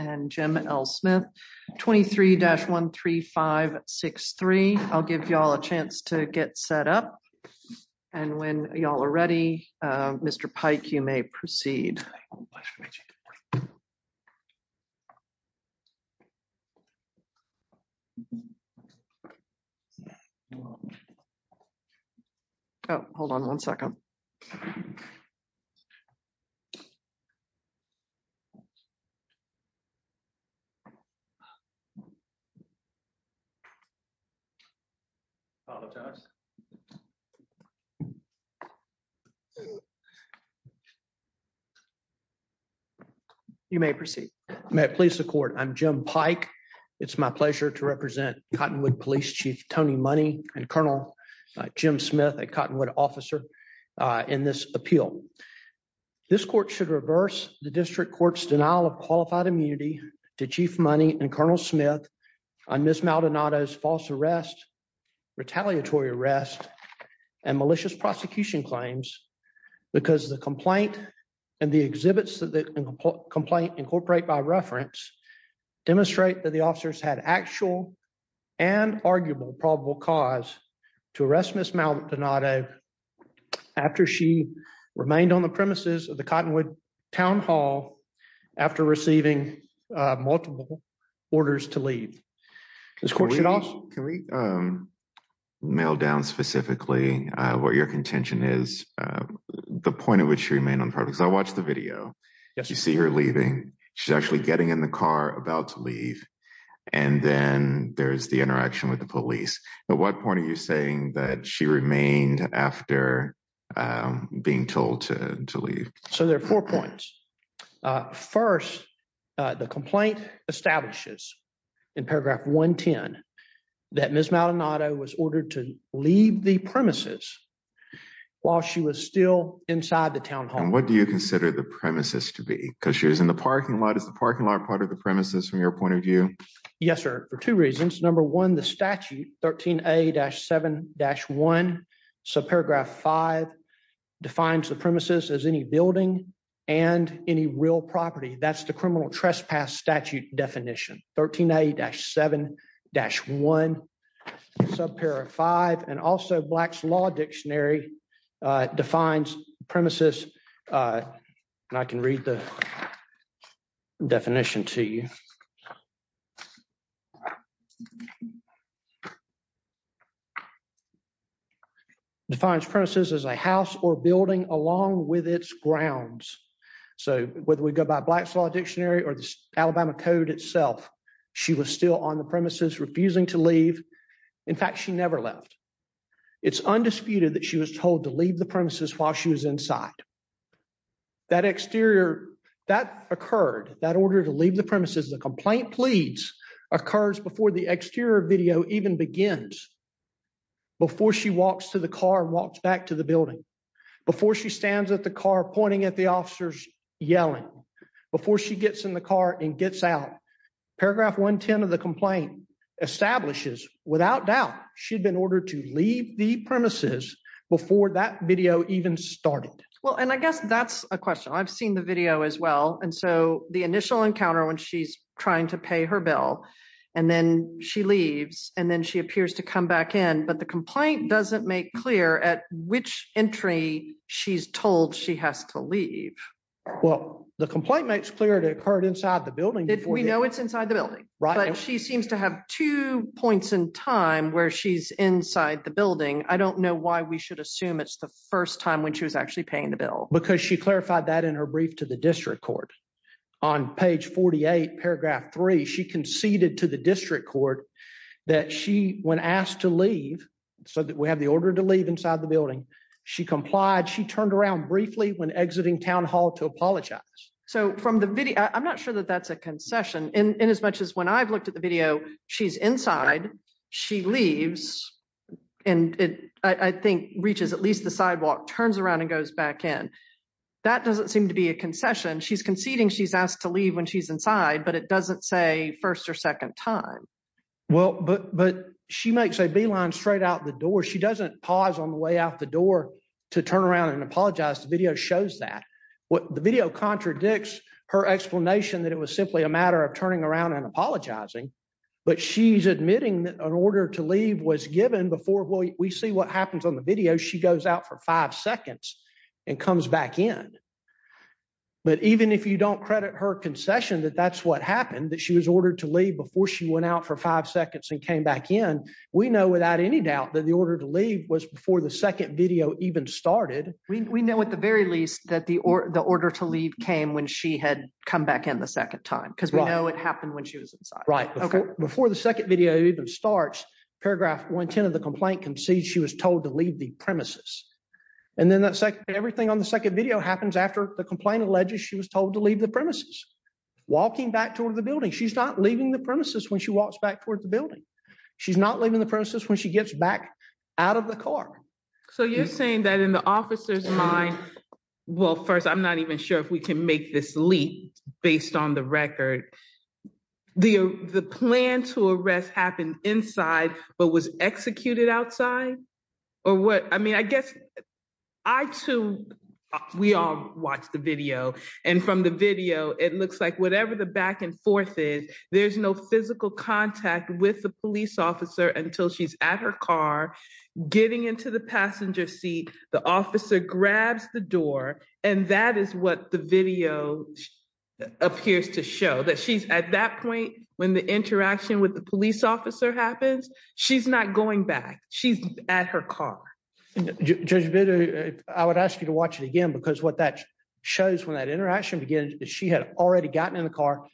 and Jim Ellsmith 23-13563. I'll give y'all a chance to get set up and when y'all are ready we'll get started. If you're ready, Mr. Pike you may proceed. Hold on one second. You may proceed. May it please the court. I'm Jim Pike. It's my pleasure to represent Cottonwood Police Chief Tony Money and Colonel Jim Smith, a Cottonwood officer in this appeal. This court should reverse the district court's denial of qualified immunity to Chief Money and Colonel Smith on Ms. Maldonado's false arrest, retaliatory arrest, and malicious prosecution claims because the complaint and the exhibits that the complaint incorporate by reference demonstrate that the officers had actual and arguable probable cause to arrest Ms. Maldonado after she remained on the premises of the Cottonwood Town Hall after receiving multiple orders to leave. Can we mail down specifically what your contention is, the point at which she remained on the premises? I watched the video. You see her leaving. She's actually getting in the car about to leave and then there's the interaction with the police. At what point are you saying that she remained after being told to leave? So there are four points. First, the complaint establishes in paragraph 110 that Ms. Maldonado was ordered to leave the premises while she was still inside the town hall. And what do you consider the premises to be? Because she was in the parking lot. Is the parking lot part of the premises from your point of view? Yes, sir. For two reasons. Number one, the statute, 13A-7-1, subparagraph 5, defines the premises as any building and any real property. That's the criminal trespass statute definition. 13A-7-1, subparagraph 5. And also Black's Law Dictionary defines premises, and I can read the definition to you, defines premises as a house or building along with its grounds. So whether we go by Black's Law Dictionary or the Alabama Code itself, she was still on the premises refusing to leave. In fact, she never left. It's undisputed that she was told to leave the premises while she was inside. That exterior, that occurred, that order to leave the premises, the complaint pleads, occurs before the exterior video even begins, before she walks to the car and walks back to the building, before she stands at the car pointing at the officers yelling, before she gets in the car and gets out. Paragraph 110 of the complaint establishes, without doubt, she'd been ordered to leave the premises before that video even started. Well, and I guess that's a question. I've seen the video as well, and so the initial encounter when she's trying to pay her bill, and then she leaves, and then she appears to come back in, but the complaint doesn't make clear at which entry she's told she has to leave. Well, the complaint makes clear it occurred inside the building. We know it's inside the building. Right. But she seems to have two points in time where she's inside the building. I don't know why we should assume it's the first time when she was actually paying the bill. Because she clarified that in her brief to the district court. On page 48, paragraph 3, she conceded to the district court that she, when asked to leave, so that we have the order to leave inside the building, she complied, she turned around briefly when exiting town hall to apologize. So from the video, I'm not sure that that's a concession, in as much as when I've looked at the video, she's inside, she leaves, and it, I think, reaches at least the sidewalk, turns around and goes back in. That doesn't seem to be a concession. She's conceding she's asked to leave when she's inside, but it doesn't say first or second time. Well, but she makes a beeline straight out the door. She doesn't pause on the way out the door to turn around and apologize. The video shows that. The video contradicts her explanation that it was simply a matter of turning around and apologizing, but she's admitting that an order to leave was given before. Well, we see what happens on the video. She goes out for five seconds and comes back in. But even if you don't credit her concession that that's what happened, that she was ordered to leave before she went out for five seconds and came back in, we know without any doubt that the order to leave was before the second video even started. We know at the very least that the order to leave came when she had come back in the second time, because we know it happened when she was inside. Before the second video even starts, paragraph 110 of the complaint concedes she was told to leave the premises. And then everything on the second video happens after the complaint alleges she was told to leave the premises, walking back toward the building. She's not leaving the premises when she walks back toward the building. She's not leaving the premises when she gets back out of the car. So you're saying that in the officer's mind, well, first, I'm not even sure if we can make this leap based on the record. The plan to arrest happened inside, but was executed outside? I mean, I guess I too, we all watch the video. And from the video, it looks like whatever the back and forth is, there's no physical contact with the police officer until she's at her car, getting into the passenger seat. The officer grabs the door. And that is what the video appears to show, that she's at that point when the interaction with the police officer happens, she's not going back. She's at her car. Judge Bitter, I would ask you to watch it again, because what that shows when that interaction begins is she had already gotten in the car.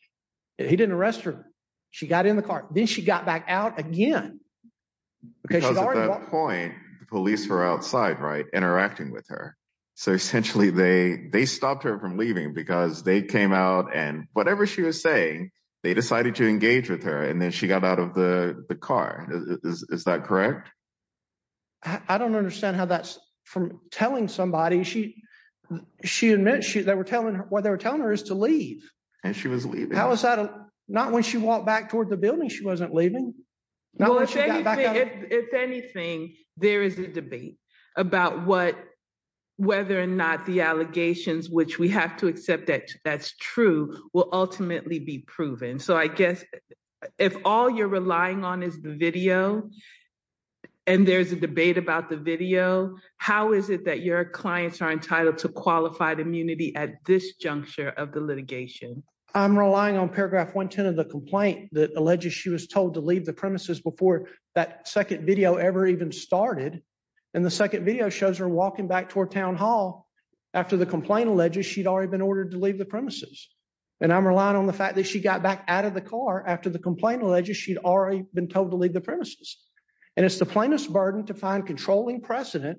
He didn't arrest her. She got in the car. Then she got back out again. Because at that point, the police were outside, right, interacting with her. So essentially, they stopped her from leaving because they came out and whatever she was saying, they decided to engage with her. And then she got out of the car. Is that correct? I don't understand how that's from telling somebody. She admits that what they were telling her is to leave. And she was leaving. Not when she walked back toward the building, she wasn't leaving. If anything, there is a debate about whether or not the allegations, which we have to accept that that's true, will ultimately be proven. So I guess if all you're relying on is the video and there's a debate about the video, how is it that your clients are entitled to qualified immunity at this juncture of the litigation? I'm relying on paragraph 110 of the complaint that alleges she was told to leave the premises before that second video ever even started. And the second video shows her walking back toward Town Hall after the complaint alleges she'd already been ordered to leave the premises. And I'm relying on the fact that she got back out of the car after the complaint alleges she'd already been told to leave the premises. And it's the plaintiff's burden to find controlling precedent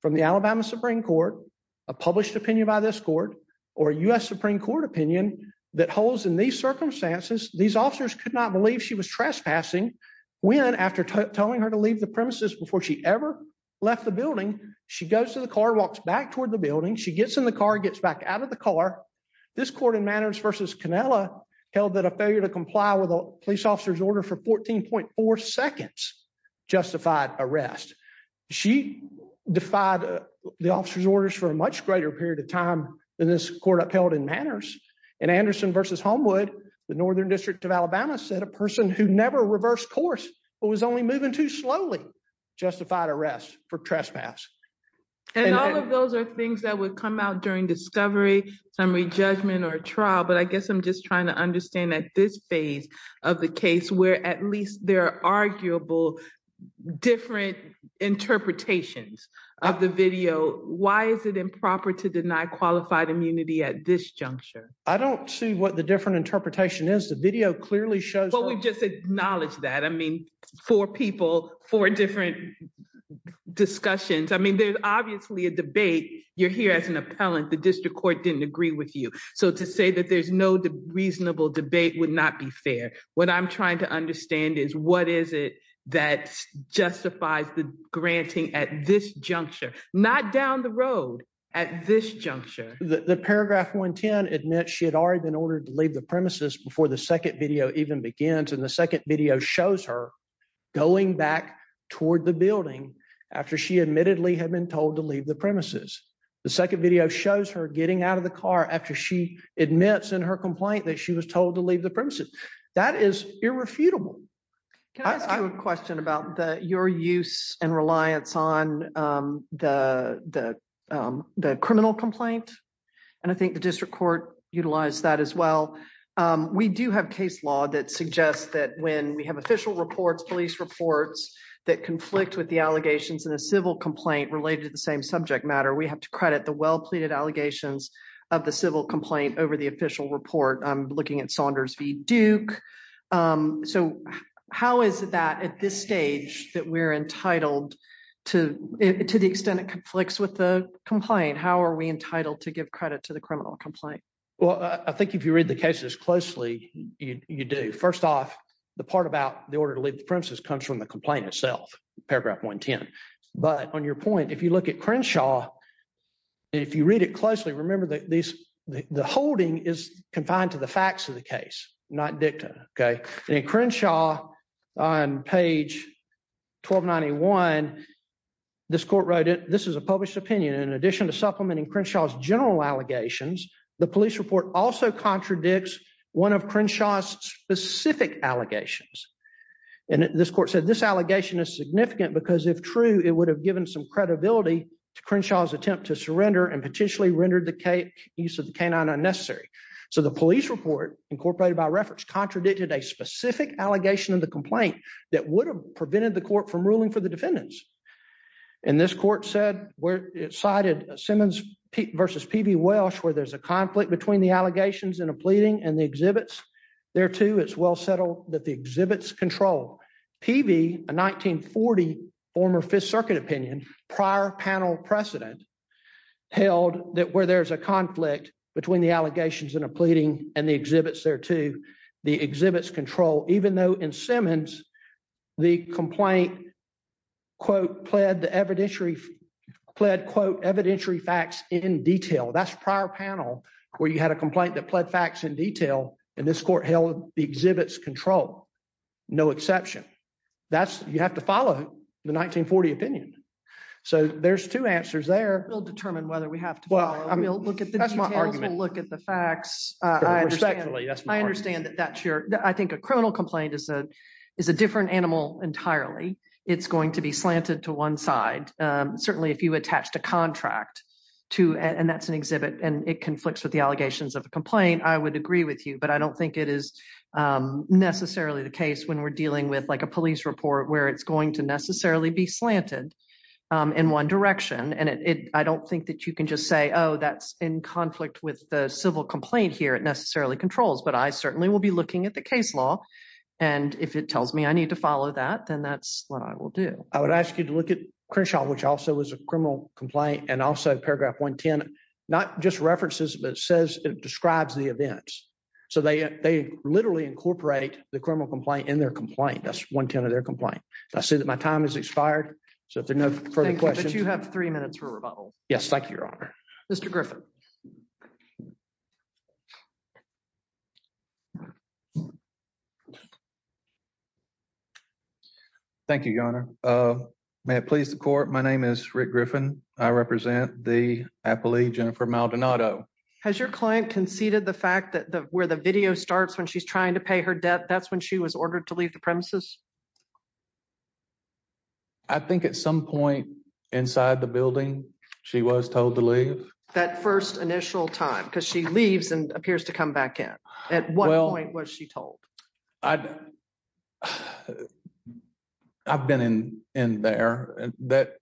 from the Alabama Supreme Court, a published opinion by this court, or a U.S. Supreme Court opinion that holds in these circumstances. These officers could not believe she was trespassing when, after telling her to leave the premises before she ever left the building, she goes to the car, walks back toward the building, she gets in the car, gets back out of the car. This court in Manners v. Cannella held that a failure to comply with a police officer's order for 14.4 seconds justified arrest. She defied the officer's orders for a much greater period of time than this court upheld in Manners. In Anderson v. Homewood, the Northern District of Alabama said a person who never reversed course but was only moving too slowly justified arrest for trespass. And all of those are things that would come out during discovery, summary judgment, or trial. But I guess I'm just trying to understand at this phase of the case where at least there are arguable different interpretations of the video. Why is it improper to deny qualified immunity at this juncture? I don't see what the different interpretation is. The video clearly shows that. Why don't we just acknowledge that? I mean, four people, four different discussions. I mean, there's obviously a debate. You're here as an appellant. The district court didn't agree with you. So to say that there's no reasonable debate would not be fair. What I'm trying to understand is what is it that justifies the granting at this juncture, not down the road, at this juncture. The paragraph 110 admits she had already been ordered to leave the premises before the second video even begins. And the second video shows her going back toward the building after she admittedly had been told to leave the premises. The second video shows her getting out of the car after she admits in her complaint that she was told to leave the premises. That is irrefutable. Can I ask you a question about your use and reliance on the criminal complaint? And I think the district court utilized that as well. We do have case law that suggests that when we have official reports, police reports that conflict with the allegations in a civil complaint related to the same subject matter, we have to credit the well-pleaded allegations of the civil complaint over the official report. I'm looking at Saunders v. Duke. So how is that at this stage that we're entitled to the extent it conflicts with the complaint? How are we entitled to give credit to the criminal complaint? Well, I think if you read the cases closely, you do. First off, the part about the order to leave the premises comes from the complaint itself, paragraph 110. But on your point, if you look at Crenshaw, if you read it closely, remember that the holding is confined to the facts of the case, not dicta. In Crenshaw, on page 1291, this court wrote, this is a published opinion. In addition to supplementing Crenshaw's general allegations, the police report also contradicts one of Crenshaw's specific allegations. And this court said this allegation is significant because if true, it would have given some credibility to Crenshaw's attempt to surrender and potentially rendered the use of the canine unnecessary. So the police report, incorporated by reference, contradicted a specific allegation of the complaint that would have prevented the court from ruling for the defendants. And this court said, where it cited Simmons v. Peavey Welsh, where there's a conflict between the allegations and a pleading and the exhibits, thereto it's well settled that the exhibits control. Peavey, a 1940 former Fifth Circuit opinion, prior panel precedent, held that where there's a conflict between the allegations and a pleading and the exhibits, thereto the exhibits control. Even though in Simmons, the complaint, quote, pled the evidentiary, pled, quote, evidentiary facts in detail. That's prior panel where you had a complaint that pled facts in detail. And this court held the exhibits control. No exception. That's, you have to follow the 1940 opinion. So there's two answers there. We'll determine whether we have to. Well, I mean, look at the facts. I understand that that's your, I think a criminal complaint is a, is a different animal entirely, it's going to be slanted to one side. Certainly if you attach the contract to and that's an exhibit and it conflicts with the allegations of a complaint I would agree with you but I don't think it is necessarily the case when we're dealing with like a police report where it's going to necessarily be slanted in one direction and it I don't think that you can just say, oh, that's in conflict with the civil complaint here it necessarily controls but I certainly will be looking at the case law. And if it tells me I need to follow that then that's what I will do, I would ask you to look at Crenshaw which also was a criminal complaint and also paragraph 110, not just references but says it describes the events. So they, they literally incorporate the criminal complaint in their complaint that's one 10 of their complaint. I see that my time is expired. So if there's no further questions you have three minutes for rebuttal. Yes, thank you, Your Honor. Mr Griffin. Thank you, Your Honor. May it please the court. My name is Rick Griffin. I represent the Appalachian for Maldonado has your client conceded the fact that the where the video starts when she's trying to pay her debt that's when she was ordered to leave the premises. I think at some point inside the building. She was told to leave that first initial time because she leaves and appears to come back in. At what point was she told. I've been in, in there, that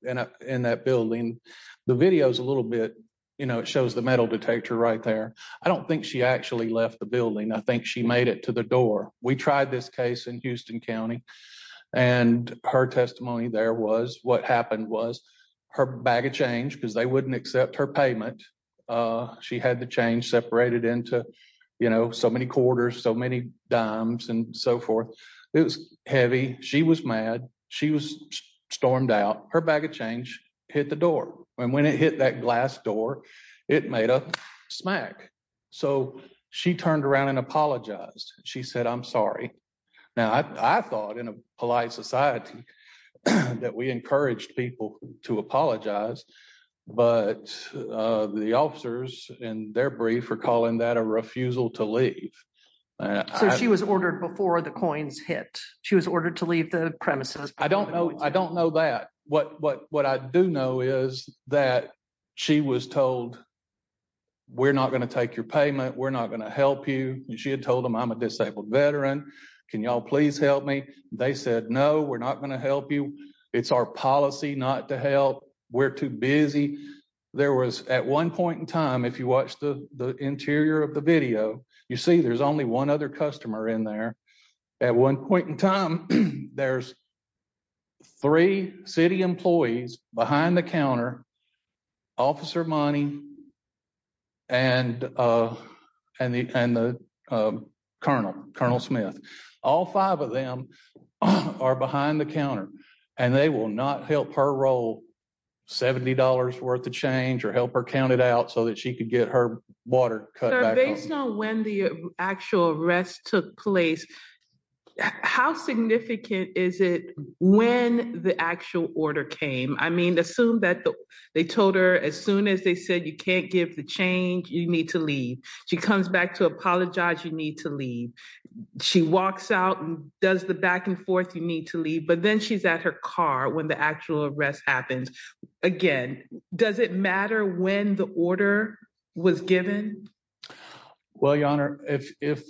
in that building. The videos a little bit, you know, it shows the metal detector right there. I don't think she actually left the building I think she made it to the door, we tried this case in Houston County, and her testimony there was what happened was her bag of change because they wouldn't accept her payment. She had the change separated into, you know, so many quarters so many dimes and so forth. It was heavy. She was mad. She was stormed out her bag of change, hit the door, and when it hit that glass door. It made a smack. So, she turned around and apologized, she said I'm sorry. Now I thought in a polite society that we encourage people to apologize, but the officers in their brief for calling that a refusal to leave. She was ordered before the coins hit, she was ordered to leave the premises. I don't know, I don't know that. What, what, what I do know is that she was told, we're not going to take your payment we're not going to help you. She had told him I'm a disabled veteran. Can y'all please help me. They said no we're not going to help you. It's our policy not to help. We're too busy. There was at one point in time if you watch the interior of the video, you see there's only one other customer in there. At one point in time, there's three city employees behind the counter officer money and, and the, and the Colonel, Colonel Smith, all five of them are behind the counter, and they will not help her roll $70 worth of change or help her counted out so that she could get her water. When the actual arrest took place. How significant is it when the actual order came I mean assume that they told her as soon as they said you can't give the change you need to leave. She comes back to apologize you need to leave. She walks out and does the back and forth you need to leave but then she's at her car when the actual arrest happens again. Does it matter when the order was given. Well, Your Honor, if, if,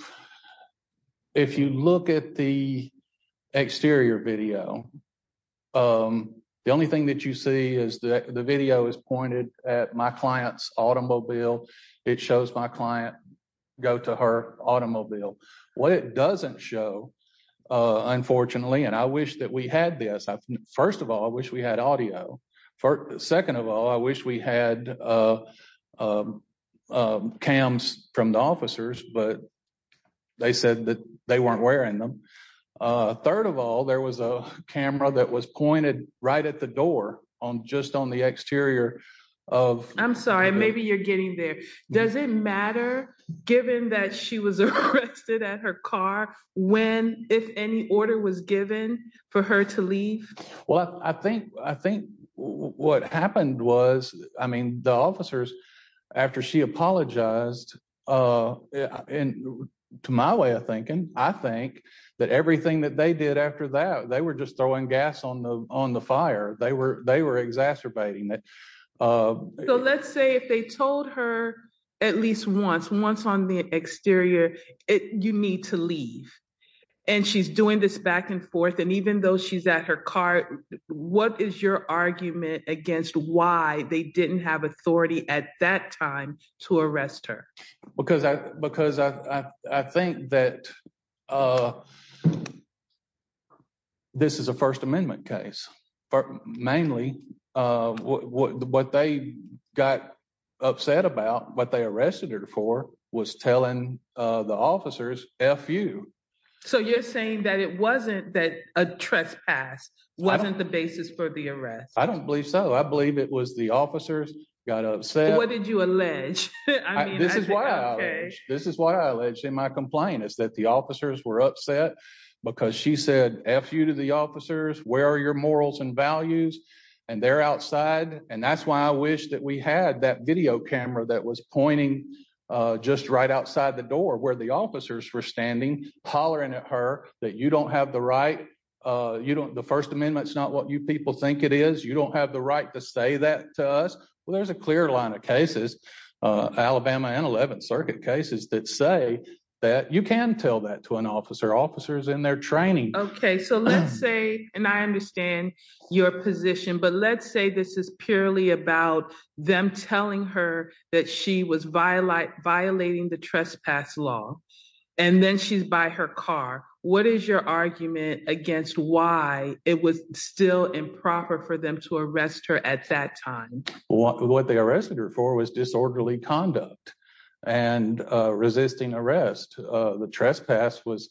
if you look at the exterior video. The only thing that you see is that the video is pointed at my clients automobile. It shows my client, go to her automobile. What it doesn't show. Unfortunately, and I wish that we had this. First of all, I wish we had audio for the second of all I wish we had cams from the officers, but they said that they weren't wearing them. Third of all, there was a camera that was pointed right at the door on just on the exterior of, I'm sorry, maybe you're getting there. Does it matter, given that she was arrested at her car, when, if any order was given for her to leave. Well, I think, I think what happened was, I mean the officers. After she apologized. And to my way of thinking, I think that everything that they did after that they were just throwing gas on the, on the fire they were they were exacerbating it. So let's say if they told her, at least once once on the exterior, it, you need to leave. And she's doing this back and forth and even though she's at her car. What is your argument against why they didn't have authority at that time to arrest her. Because I, because I think that this is a First Amendment case, but mainly what they got upset about what they arrested her for was telling the officers, F you. So you're saying that it wasn't that a trespass wasn't the basis for the arrest. I don't believe so I believe it was the officers got upset. What did you allege. This is why this is why I let him I complain is that the officers were upset, because she said, F you to the officers, where are your morals and values, and they're outside, and that's why I wish that we had that video camera that was pointing. Just right outside the door where the officers were standing, hollering at her that you don't have the right. You don't the First Amendment is not what you people think it is you don't have the right to say that to us. Well there's a clear line of cases, Alabama and 11th Circuit cases that say that you can tell that to an officer officers in their training. Okay, so let's say, and I understand your position but let's say this is purely about them telling her that she was violate violating the trespass law. And then she's by her car. What is your argument against why it was still improper for them to arrest her at that time, what they arrested her for was disorderly conduct and resisting arrest. The trespass was,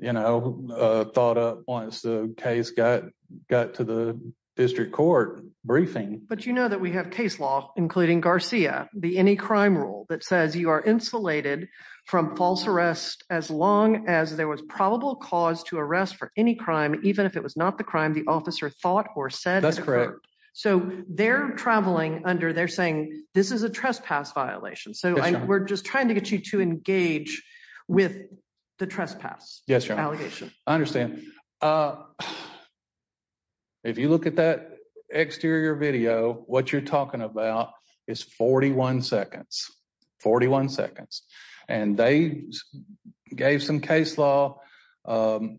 you know, thought up once the case got got to the district court briefing, but you know that we have case law, including Garcia, the any crime rule that says you are insulated from false arrest, as long as there was probable cause to arrest for any crime, even if it was not the crime the officer thought or said that's correct. So, they're traveling under they're saying this is a trespass violation so we're just trying to get you to engage with the trespass. Yes. I understand. If you look at that exterior video, what you're talking about is 41 seconds, 41 seconds, and they gave some case law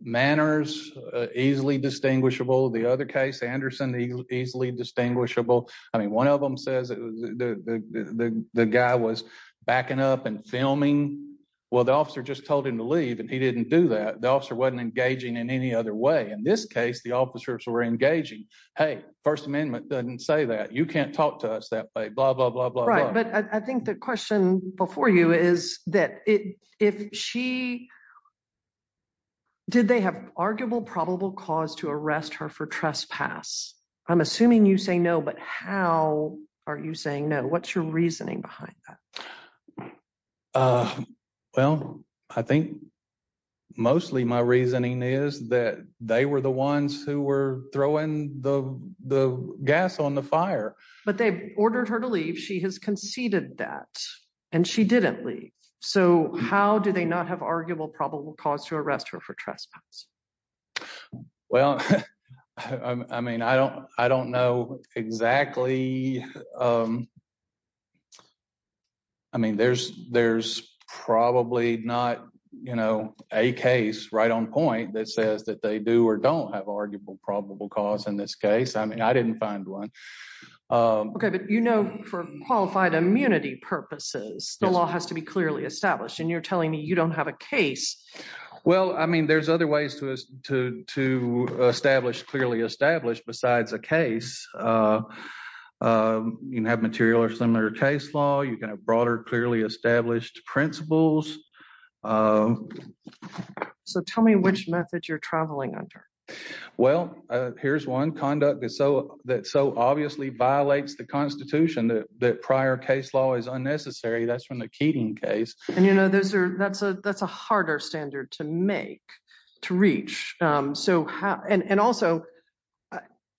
manners, easily distinguishable the other case Anderson easily distinguishable. I mean one of them says the guy was backing up and filming. Well the officer just told him to leave and he didn't do that the officer wasn't engaging in any other way in this case the officers were engaging. Hey, First Amendment doesn't say that you can't talk to us that way blah blah blah blah blah but I think the question before you is that it, if she did they have arguable probable cause to arrest her for trespass. I'm assuming you say no but how are you saying no what's your reasoning behind that. Well, I think, mostly my reasoning is that they were the ones who were throwing the, the gas on the fire, but they ordered her to leave she has conceded that, and she didn't leave. So how do they not have arguable probable cause to arrest her for trespass. Well, I mean I don't, I don't know exactly. I mean there's, there's probably not, you know, a case right on point that says that they do or don't have arguable probable cause in this case I mean I didn't find one. Okay, but you know for qualified immunity purposes, the law has to be clearly established and you're telling me you don't have a case. Well, I mean there's other ways to to establish clearly established besides a case. You can have material or similar case law you can have broader clearly established principles. So tell me which method you're traveling under. Well, here's one conduct is so that so obviously violates the Constitution that prior case law is unnecessary that's from the Keating case, and you know those are that's a that's a harder standard to make to reach. So, and also,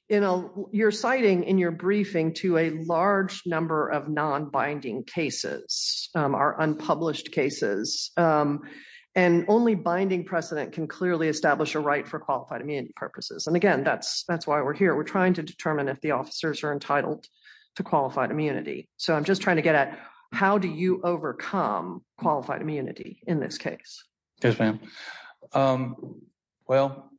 you know, you're citing in your briefing to a large number of non binding cases are unpublished cases. And only binding precedent can clearly establish a right for qualified immunity purposes and again that's that's why we're here we're trying to determine if the officers are entitled to qualified immunity. So I'm just trying to get at how do you overcome qualified immunity in this case. Yes, ma'am. Well,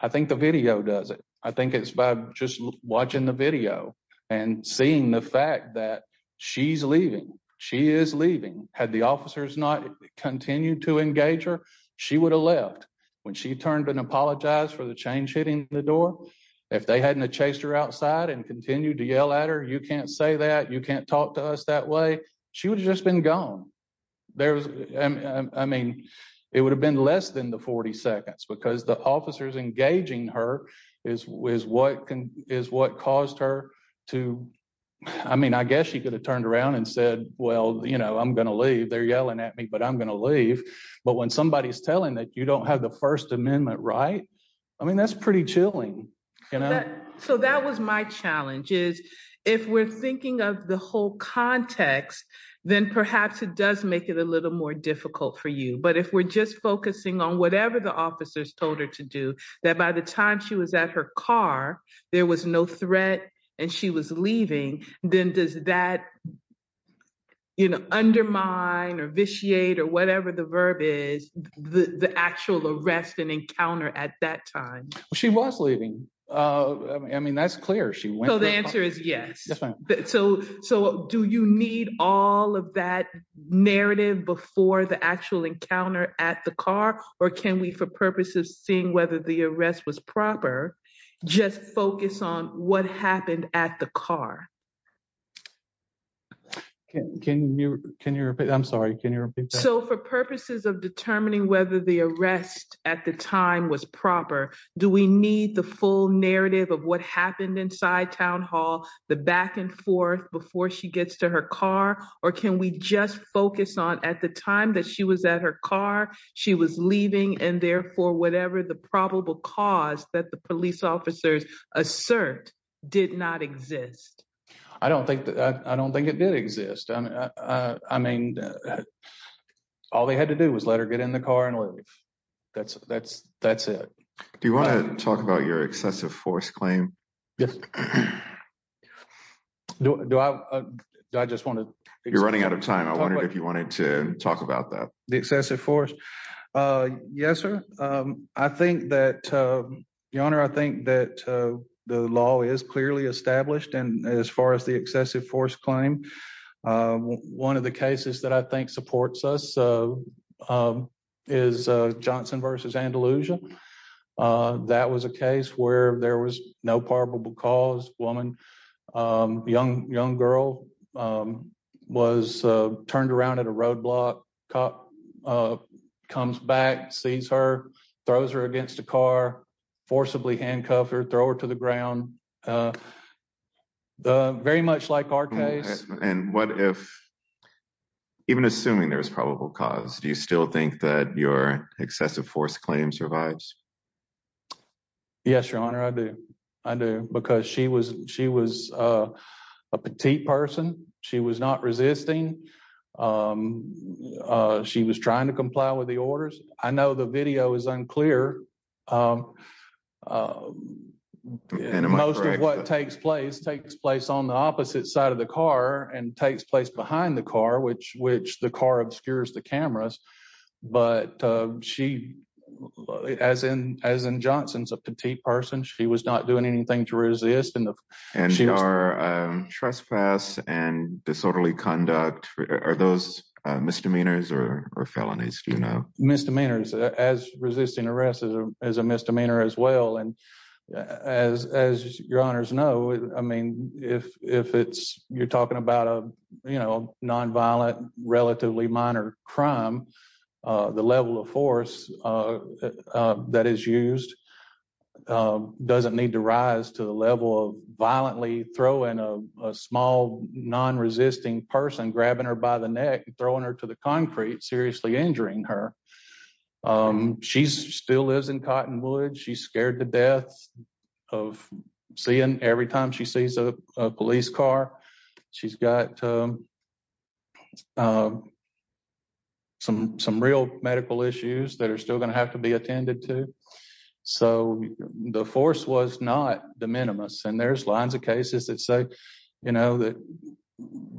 I think the video does it. I think it's by just watching the video and seeing the fact that she's leaving. She is leaving had the officers not continue to engage her. She would have left when she turned and apologize for the change hitting the door. If they hadn't chased her outside and continue to yell at her you can't say that you can't talk to us that way. She would have just been gone. There's, I mean, it would have been less than the 40 seconds because the officers engaging her is was what can is what caused her to. I mean, I guess you could have turned around and said, Well, you know, I'm going to leave they're yelling at me but I'm going to leave. But when somebody is telling that you don't have the First Amendment right. I mean, that's pretty chilling. So that was my challenge is, if we're thinking of the whole context, then perhaps it does make it a little more difficult for you but if we're just focusing on whatever the officers told her to do that by the time she was at her car. There was no threat, and she was leaving, then does that, you know, undermine or vitiate or whatever the verb is the actual arrest and encounter at that time, she was leaving. I mean that's clear she will the answer is yes. So, so do you need all of that narrative before the actual encounter at the car, or can we for purposes of seeing whether the arrest was proper. Just focus on what happened at the car. Can you, can you repeat I'm sorry can you. So for purposes of determining whether the arrest at the time was proper. Do we need the full narrative of what happened inside town hall, the back and forth before she gets to her car, or can we just focus on at the time that she was at her car. She was leaving and therefore whatever the probable cause that the police officers assert did not exist. I don't think that I don't think it did exist. I mean, all they had to do was let her get in the car and leave. That's, that's, that's it. Do you want to talk about your excessive force claim. Yes. Do I just want to. You're running out of time I wonder if you wanted to talk about that the excessive force. Yes, sir. I think that the owner I think that the law is clearly established and as far as the excessive force claim. One of the cases that I think supports us. Is Johnson versus Andalusia. That was a case where there was no probable cause woman. Young, young girl was turned around at a roadblock cop comes back sees her throws her against the car forcibly handcuffed or throw her to the ground. Very much like our case, and what if, even assuming there's probable cause do you still think that your excessive force claim survives. Yes, your honor I do. I do, because she was, she was a petite person. She was not resisting. She was trying to comply with the orders. I know the video is unclear. And most of what takes place takes place on the opposite side of the car and takes place behind the car which which the car obscures the cameras. But she, as in, as in Johnson's a petite person she was not doing anything to resist and she are trespass and disorderly conduct are those misdemeanors or felonies do you know misdemeanors as resisting arrest. Yes, as a misdemeanor as well and as, as your honors know, I mean, if, if it's, you're talking about a, you know, non violent relatively minor crime. The level of force that is used doesn't need to rise to the level of violently throw in a small non resisting person grabbing her by the neck, throwing her to the concrete seriously injuring her. She's still lives in Cottonwood she's scared to death of seeing every time she sees a police car. She's got some, some real medical issues that are still going to have to be attended to. So, the force was not the minimus and there's lines of cases that say, you know that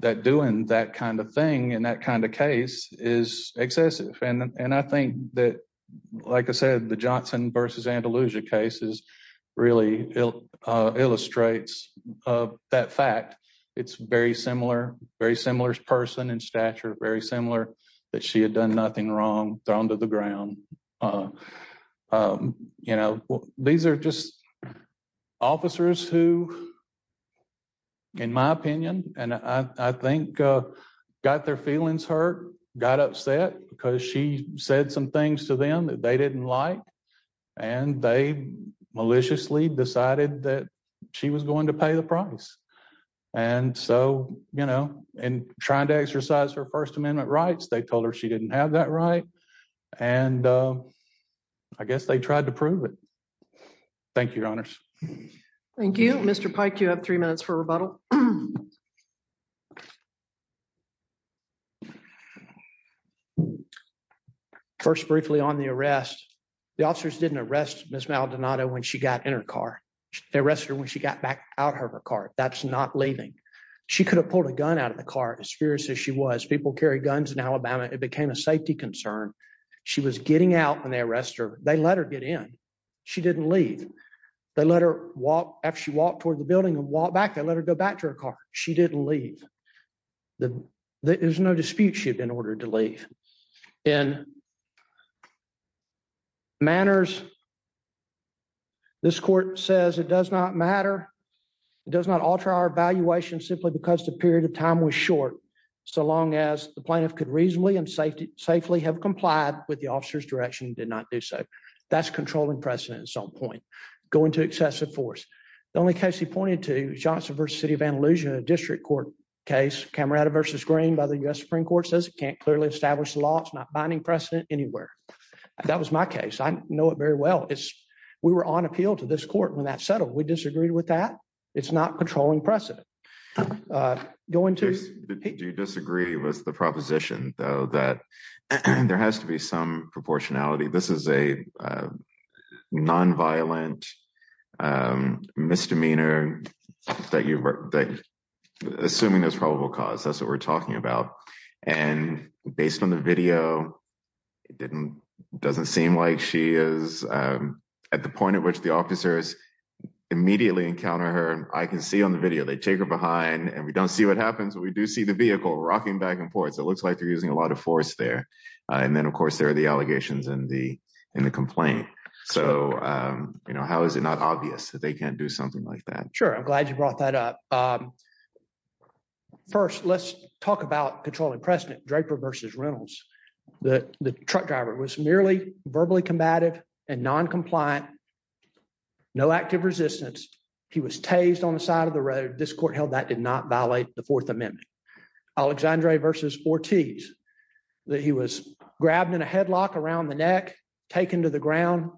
that doing that kind of thing and that kind of case is excessive and I think that, like I said the Johnson versus Andalusia cases, really illustrates that fact. It's very similar, very similar person and stature very similar that she had done nothing wrong, thrown to the ground. You know, these are just officers who, in my opinion, and I think got their feelings hurt, got upset because she said some things to them that they didn't like, and they maliciously decided that she was going to pay the price. And so, you know, and trying to exercise her First Amendment rights they told her she didn't have that right. And I guess they tried to prove it. Thank you, Your Honors. Thank you, Mr. Pike you have three minutes for rebuttal. First briefly on the arrest. The officers didn't arrest Miss Maldonado when she got in her car. They arrested her when she got back out of her car, that's not leaving. She could have pulled a gun out of the car as fierce as she was people carry guns in Alabama, it became a safety concern. She was getting out when they arrest her, they let her get in. She didn't leave. They let her walk after she walked toward the building and walk back and let her go back to her car. She didn't leave the, there's no dispute ship in order to leave in manners. This court says it does not matter. It does not alter our evaluation simply because the period of time was short. So long as the plaintiff could reasonably and safety, safely have complied with the officer's direction did not do so. That's controlling precedent at some point, going to excessive force. The only case he pointed to Johnson versus City of Andalusia district court case camera versus screen by the US Supreme Court says can't clearly establish the law it's not binding precedent anywhere. That was my case I know it very well it's. We were on appeal to this court when that settled we disagreed with that. It's not controlling precedent going to disagree with the proposition, though, that there has to be some proportionality. And I think this is a non violent misdemeanor that you're assuming there's probable cause that's what we're talking about. And based on the video. It didn't doesn't seem like she is at the point at which the officers immediately encounter her, I can see on the video they take her behind and we don't see what happens when we do see the vehicle rocking back and forth so it looks like they're using a lot of force there. And then of course there are the allegations and the, and the complaint. So, you know, how is it not obvious that they can do something like that. Sure, I'm glad you brought that up. First, let's talk about controlling precedent Draper versus Reynolds, that the truck driver was merely verbally combative and non compliant. No active resistance. He was tased on the side of the road this court held that did not violate the Fourth Amendment. Alexandria versus Ortiz that he was grabbed in a headlock around the neck, taken to the ground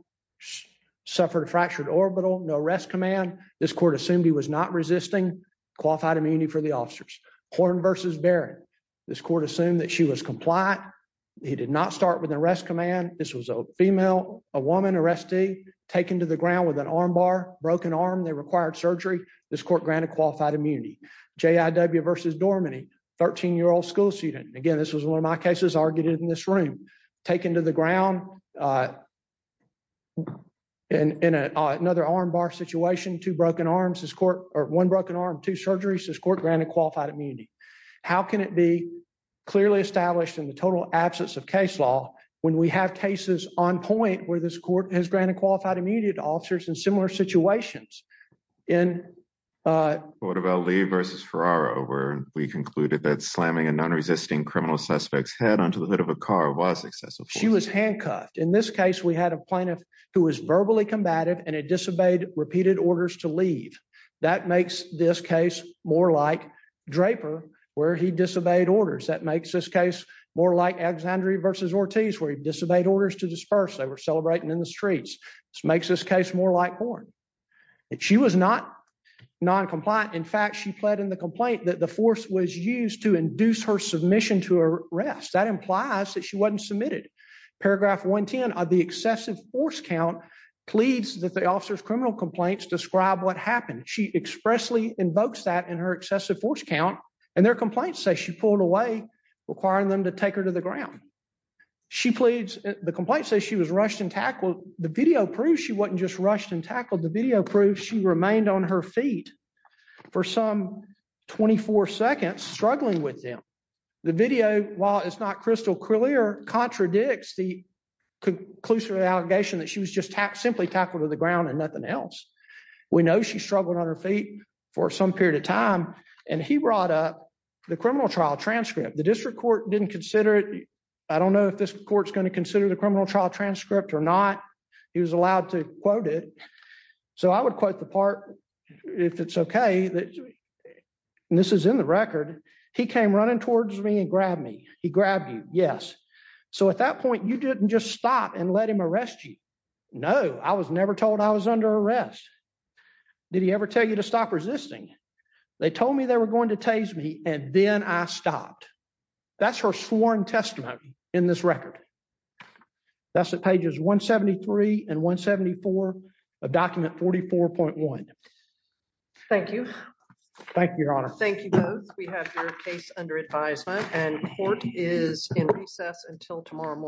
suffered a fractured orbital no rest command. This court assumed he was not resisting qualified immunity for the officers corn versus bear. This court assumed that she was compliant. He did not start with the rest command. This was a female, a woman arrest a taken to the ground with an arm bar broken arm they required surgery. This court granted qualified immunity JW versus dormant 13 year old school student again this was one of my cases argued in this room, taken to the ground. And in another arm bar situation to broken arms as court, or one broken arm to surgery says court granted qualified immunity. How can it be clearly established in the total absence of case law, when we have cases on point where this court has granted qualified immediate officers in similar situations in what about Lee versus for our over, we concluded that slamming and non resisting criminal suspects head onto the hood of a car was excessive. She was handcuffed in this case we had a plaintiff, who was verbally combative and it disobeyed repeated orders to leave. That makes this case, more like Draper, where he disobeyed orders that makes this case, more like Alexandria versus Ortiz where they disobeyed orders to disperse they were celebrating in the streets, makes this case, more like porn. She was not non compliant in fact she pled in the complaint that the force was used to induce her submission to arrest that implies that she wasn't submitted paragraph 110 of the excessive force count pleads that the officers criminal complaints describe what happened she expressly invokes that in her excessive force count, and their complaints say she pulled away requiring them to take her to the ground. She pleads, the complaint says she was rushed and tackle the video proves she wasn't just rushed and tackled the video proves she remained on her feet for some 24 seconds struggling with them. The video, while it's not crystal clear contradicts the conclusion allegation that she was just tapped simply tackle to the ground and nothing else. We know she struggled on her feet for some period of time, and he brought up the criminal trial transcript the district court didn't consider it. I don't know if this court is going to consider the criminal trial transcript or not. He was allowed to quote it. So I would quote the part. If it's okay that this is in the record. He came running towards me and grabbed me, he grabbed you. Yes. So at that point you didn't just stop and let him arrest you know I was never told I was under arrest. Did he ever tell you to stop resisting. They told me they were going to tase me, and then I stopped. That's her sworn testimony in this record. That's the pages 173 and 174 of document 44.1. Thank you. Thank you, Your Honor. Thank you. We have your case under advisement and court is in recess until tomorrow morning.